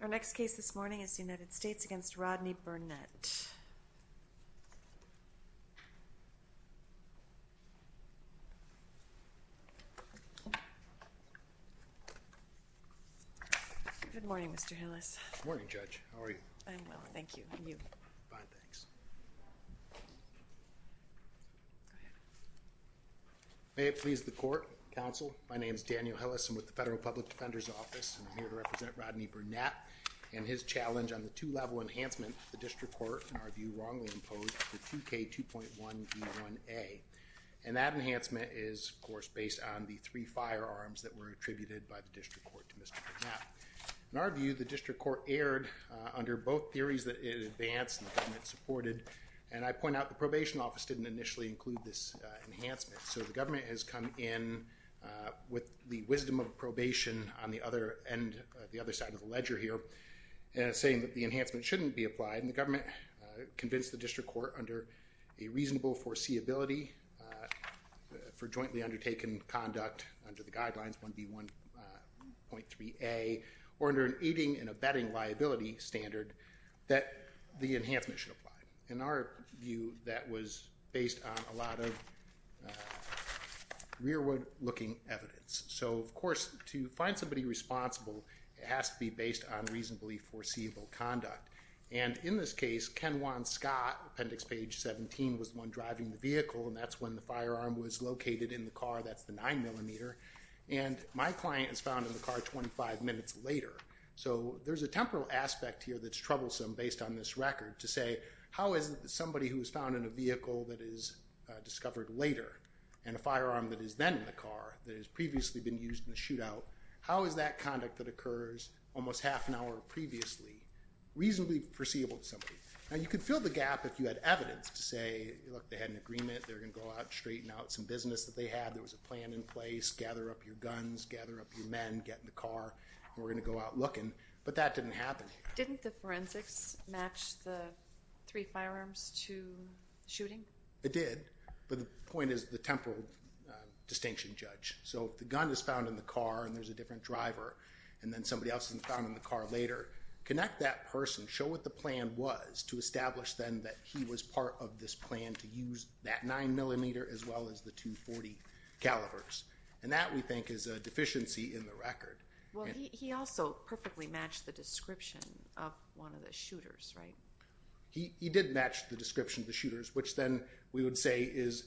Our next case this morning is the United States v. Rodney Burnett. Good morning, Mr. Hillis. Good morning, Judge. How are you? I'm well, thank you. And you? Fine, thanks. May it please the Court, Counsel, my name is Daniel Hillis, I'm with the Federal Public Defender's Office, and I'm here to represent Rodney Burnett and his challenge on the two-level enhancement the District Court, in our view, wrongly imposed under 2K2.1b1a. And that enhancement is, of course, based on the three firearms that were attributed by the District Court to Mr. Burnett. Now, in our view, the District Court erred under both theories that it advanced and the government supported, and I point out the Probation Office didn't initially include this enhancement. So the government has come in with the wisdom of probation on the other end, the other side of the ledger here, saying that the enhancement shouldn't be applied, and the government convinced the District Court under a reasonable foreseeability for jointly undertaken conduct under the guidelines 1B1.3a, or under an aiding and abetting liability standard, that the enhancement should apply. In our view, that was based on a lot of rearward-looking evidence. So of course, to find somebody responsible, it has to be based on reasonably foreseeable conduct. And in this case, Ken Juan Scott, appendix page 17, was the one driving the vehicle, and that's when the firearm was located in the car, that's the 9mm. And my client is found in the car 25 minutes later. So there's a temporal aspect here that's troublesome based on this record to say, how is somebody who was found in a vehicle that is discovered later, and a firearm that is then in the car that has previously been used in the shootout, how is that conduct that occurs almost half an hour previously reasonably foreseeable to somebody? Now, you could fill the gap if you had evidence to say, look, they had an agreement, they're there's a plan in place, gather up your guns, gather up your men, get in the car, and we're going to go out looking. But that didn't happen. Didn't the forensics match the three firearms to the shooting? It did. But the point is the temporal distinction, Judge. So if the gun is found in the car, and there's a different driver, and then somebody else is found in the car later, connect that person, show what the plan was to establish then that he was part of this plan to use that 9mm as well as the .240 calibers. And that, we think, is a deficiency in the record. Well, he also perfectly matched the description of one of the shooters, right? He did match the description of the shooters, which then we would say is,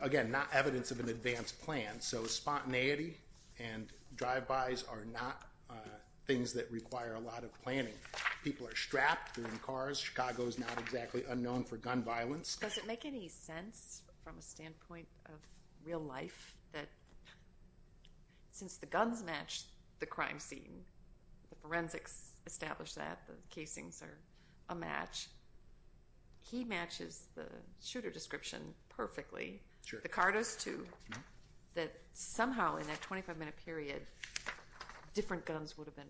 again, not evidence of an advanced plan. So spontaneity and drive-bys are not things that require a lot of planning. People are strapped, they're in cars. Chicago is not exactly unknown for gun violence. Does it make any sense from a standpoint of real life that since the guns match the crime scene, the forensics establish that, the casings are a match, he matches the shooter description perfectly, the car does too, that somehow in that 25-minute period, different guns would have been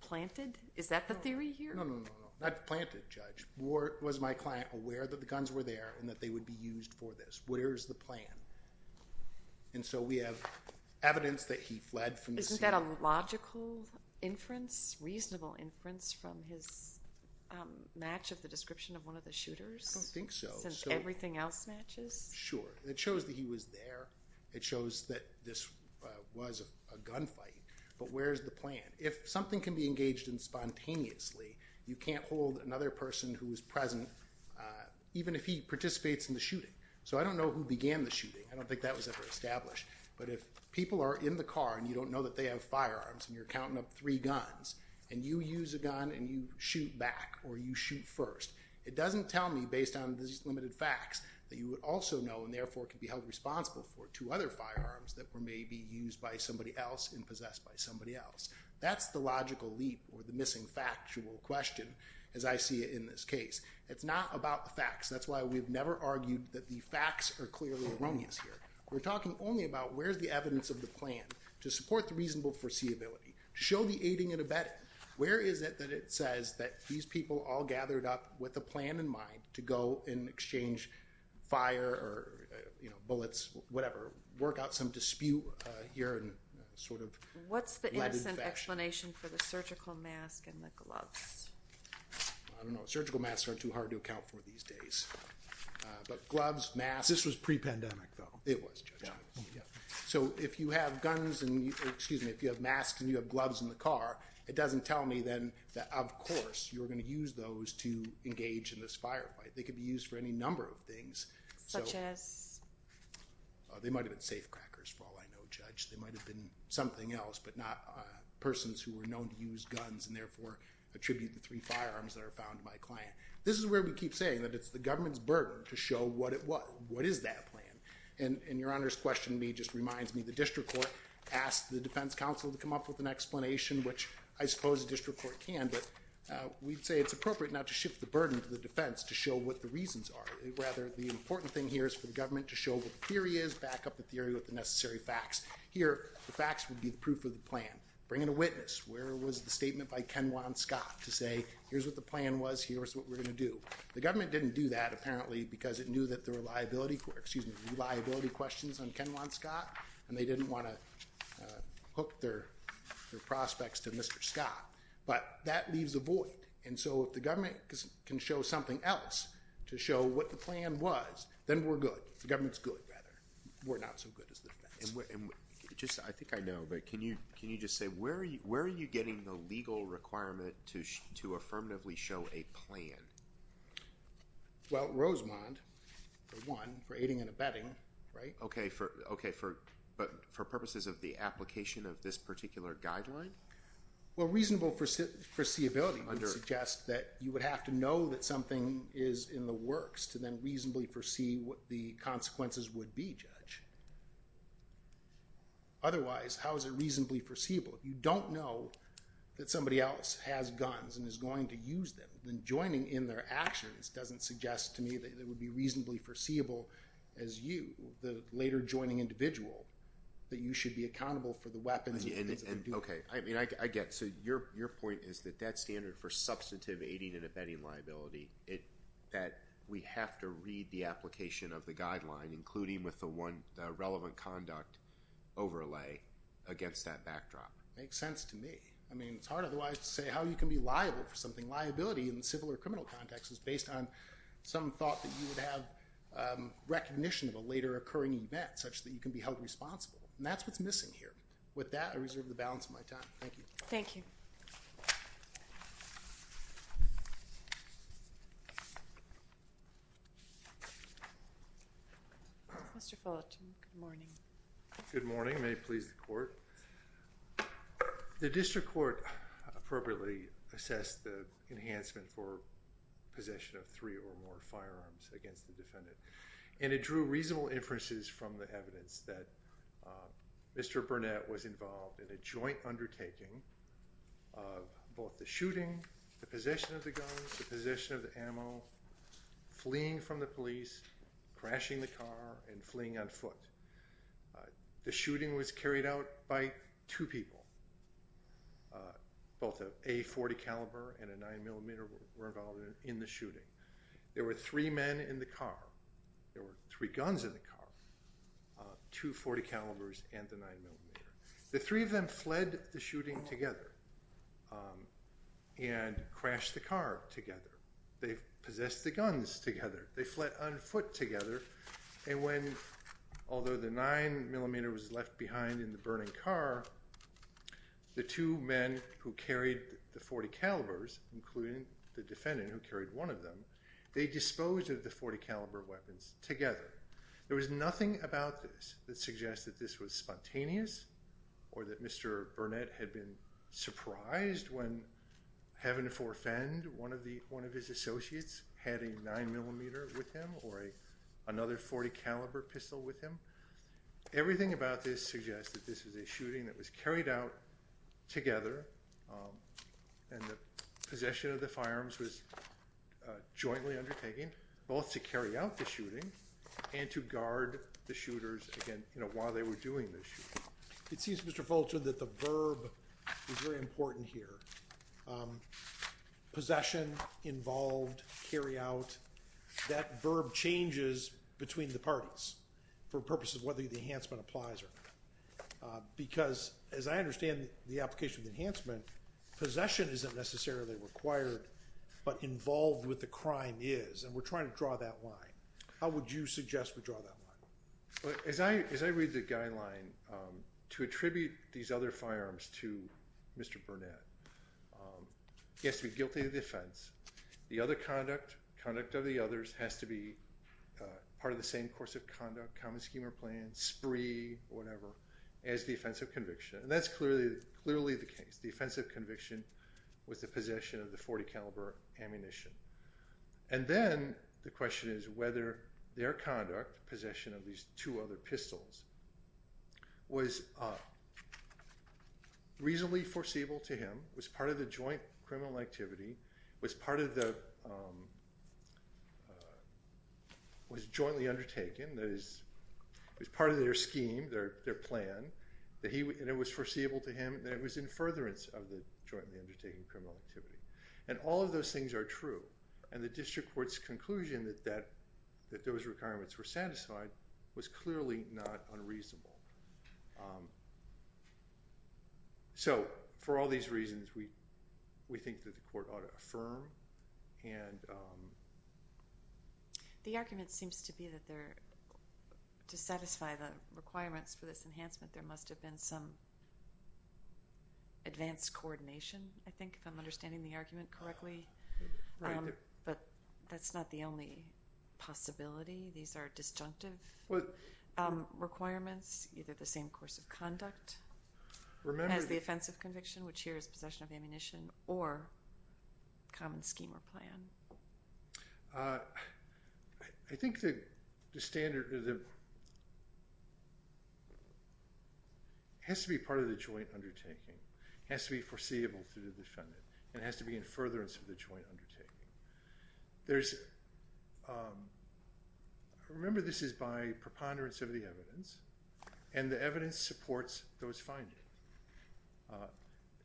planted? Is that the theory here? No, no, no, no. Not planted, Judge. Was my client aware that the guns were there and that they would be used for this? Where's the plan? And so we have evidence that he fled from the scene. Isn't that a logical inference, reasonable inference from his match of the description of one of the shooters? I don't think so. Since everything else matches? Sure. It shows that he was there. It shows that this was a gunfight, but where's the plan? If something can be engaged in spontaneously, you can't hold another person who was present even if he participates in the shooting. So I don't know who began the shooting. I don't think that was ever established. But if people are in the car and you don't know that they have firearms and you're counting up three guns and you use a gun and you shoot back or you shoot first, it doesn't tell me based on these limited facts that you would also know and therefore could be held responsible for two other firearms that were maybe used by somebody else and possessed by somebody else. That's the logical leap or the missing factual question as I see it in this case. It's not about the facts. That's why we've never argued that the facts are clearly erroneous here. We're talking only about where's the evidence of the plan to support the reasonable foreseeability, show the aiding and abetting. Where is it that it says that these people all gathered up with a plan in mind to go and exchange fire or, you know, bullets, whatever, work out some dispute here and sort of what's the explanation for the surgical mask and the gloves? I don't know. Surgical masks are too hard to account for these days, but gloves, masks, this was pre-pandemic though. It was. Yeah. So if you have guns and excuse me, if you have masks and you have gloves in the car, it doesn't tell me then that of course you're going to use those to engage in this firefight. They could be used for any number of things. Such as? They might have been safe crackers for all I know, Judge. They might have been something else, but not persons who were known to use guns and therefore attribute the three firearms that are found to my client. This is where we keep saying that it's the government's burden to show what it was. What is that plan? And your Honor's question to me just reminds me the district court asked the defense counsel to come up with an explanation, which I suppose the district court can, but we'd say it's the burden to the defense to show what the reasons are. Rather, the important thing here is for the government to show what the theory is, back up the theory with the necessary facts. Here the facts would be the proof of the plan. Bring in a witness. Where was the statement by Ken Juan Scott to say, here's what the plan was, here's what we're going to do? The government didn't do that apparently because it knew that there were liability questions on Ken Juan Scott and they didn't want to hook their prospects to Mr. Scott. But that leaves a void. And so if the government can show something else to show what the plan was, then we're good. The government's good, rather. We're not so good as the defense. I think I know, but can you just say where are you getting the legal requirement to affirmatively show a plan? Well, Rosemond, for one, for aiding and abetting, right? For purposes of the application of this particular guideline? Well, reasonable foreseeability would suggest that you would have to know that something is in the works to then reasonably foresee what the consequences would be, Judge. Otherwise, how is it reasonably foreseeable? If you don't know that somebody else has guns and is going to use them, then joining in their actions doesn't suggest to me that it would be reasonably foreseeable as you, the later joining individual, that you should be accountable for the weapons and the things Okay. I mean, I get it. So your point is that that standard for substantive aiding and abetting liability, that we have to read the application of the guideline, including with the one relevant conduct overlay against that backdrop. Makes sense to me. I mean, it's hard otherwise to say how you can be liable for something. Liability in the civil or criminal context is based on some thought that you would have recognition of a later occurring event such that you can be held responsible. And that's what's missing here. With that, I reserve the balance of my time. Thank you. Thank you. Mr. Fullerton, good morning. Good morning. May it please the court. The district court appropriately assessed the enhancement for possession of three or more firearms against the defendant. And it drew reasonable inferences from the evidence that Mr. Burnett was involved in a joint undertaking of both the shooting, the possession of the guns, the possession of the ammo, fleeing from the police, crashing the car, and fleeing on foot. The shooting was carried out by two people, both an A-40 caliber and a 9mm revolver in the shooting. There were three men in the car. There were three guns in the car, two 40 calibers and the 9mm. The three of them fled the shooting together and crashed the car together. They possessed the guns together. They fled on foot together. And when, although the 9mm was left behind in the burning car, the two men who carried the 40 calibers, including the defendant who carried one of them, they disposed of the 40 caliber weapons together. There was nothing about this that suggests that this was spontaneous or that Mr. Burnett had been surprised when, heaven forfend, one of his associates had a 9mm with him or another 40 caliber pistol with him. Everything about this suggests that this was a shooting that was carried out together and the possession of the firearms was jointly undertaken, both to carry out the shooting and to guard the shooters while they were doing the shooting. It seems, Mr. Fulcher, that the verb is very important here. Possession, involved, carry out. That verb changes between the parties for purposes of whether the enhancement applies or not. Because, as I understand the application of the enhancement, possession isn't necessarily required, but involved with the crime is. And we're trying to draw that line. How would you suggest we draw that line? As I read the guideline, to attribute these other firearms to Mr. Burnett, he has to be guilty of the offense. The other conduct, conduct of the others, has to be part of the same course of conduct, common scheme or plan, spree, whatever, as the offense of conviction. And that's clearly the case. The offense of conviction was the possession of the 40 caliber ammunition. And then the question is whether their conduct, possession of these two other pistols, was reasonably foreseeable to him, was part of the joint criminal activity, was jointly undertaken, that is, was part of their scheme, their plan, and it was foreseeable to him that it was in furtherance of the jointly undertaken criminal activity. And all of those things are true. And the district court's conclusion that those requirements were satisfied was clearly not unreasonable. So, for all these reasons, we think that the court ought to affirm. And... The argument seems to be that there, to satisfy the requirements for this enhancement, there must have been some advanced coordination, I think, if I'm understanding the argument correctly. But that's not the only possibility. These are disjunctive requirements, either the same course of conduct as the offense of conviction, which here is possession of ammunition, or common scheme or plan. I think the standard has to be part of the joint undertaking. It has to be foreseeable to the defendant. It has to be in furtherance of the joint undertaking. There's... Remember, this is by preponderance of the evidence, and the evidence supports those findings.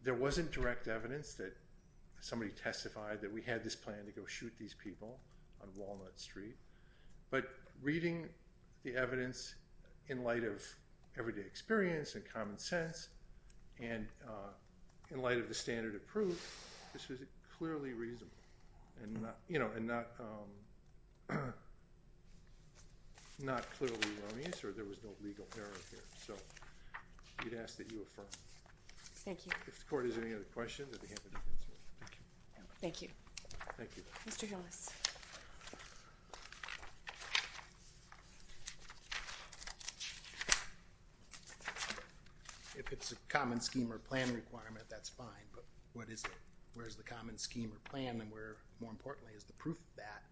There wasn't direct evidence that somebody testified that we had this plan to go shoot these people on Walnut Street. But reading the evidence in light of everyday experience and common sense, and in light of the standard of proof, this was clearly reasonable, and not clearly erroneous, or there was no legal error here. So, we'd ask that you affirm. Thank you. If the court has any other questions on behalf of the defense... Thank you. Thank you. Mr. Hillis. If it's a common scheme or plan requirement, that's fine, but what is it? Where's the common scheme or plan, and where, more importantly, is the proof of that?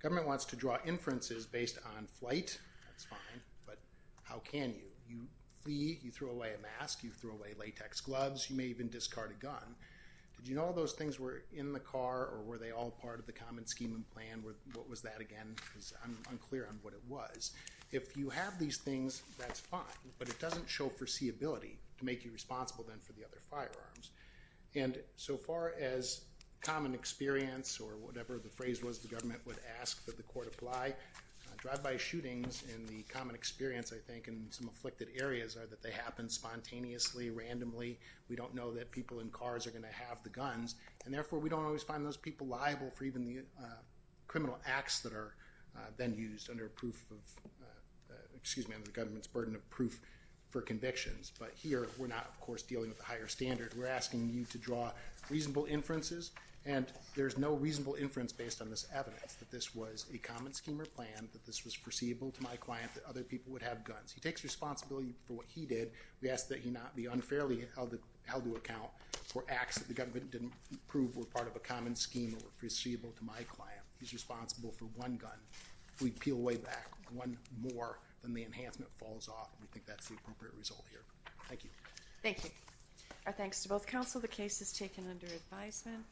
Government wants to draw inferences based on flight. That's fine, but how can you? You flee, you throw away a mask, you throw away latex gloves, you may even discard a gun. Did you know all those things were in the car, or were they all part of the common scheme and plan? What was that again? I'm unclear on what it was. If you have these things, that's fine, but it doesn't show foreseeability to make you responsible then for the other firearms. And so far as common experience, or whatever the phrase was the government would ask that the court apply, drive-by shootings and the common experience, I think, in some afflicted areas are that they happen spontaneously, randomly. We don't know that people in cars are going to have the guns, and therefore we don't always find those people liable for even the criminal acts that are then used under the government's burden of proof for convictions. But here we're not, of course, dealing with the higher standard. We're asking you to draw reasonable inferences, and there's no reasonable inference based on this evidence, that this was a common scheme or plan, that this was foreseeable to my client, that other people would have guns. He takes responsibility for what he did. We ask that he not be unfairly held to account for acts that the government didn't prove were part of a common scheme or were foreseeable to my client. He's responsible for one gun. If we peel way back one more, then the enhancement falls off, and we think that's the appropriate result here. Thank you. Thank you. Our thanks to both counsel. The case is taken under advisement.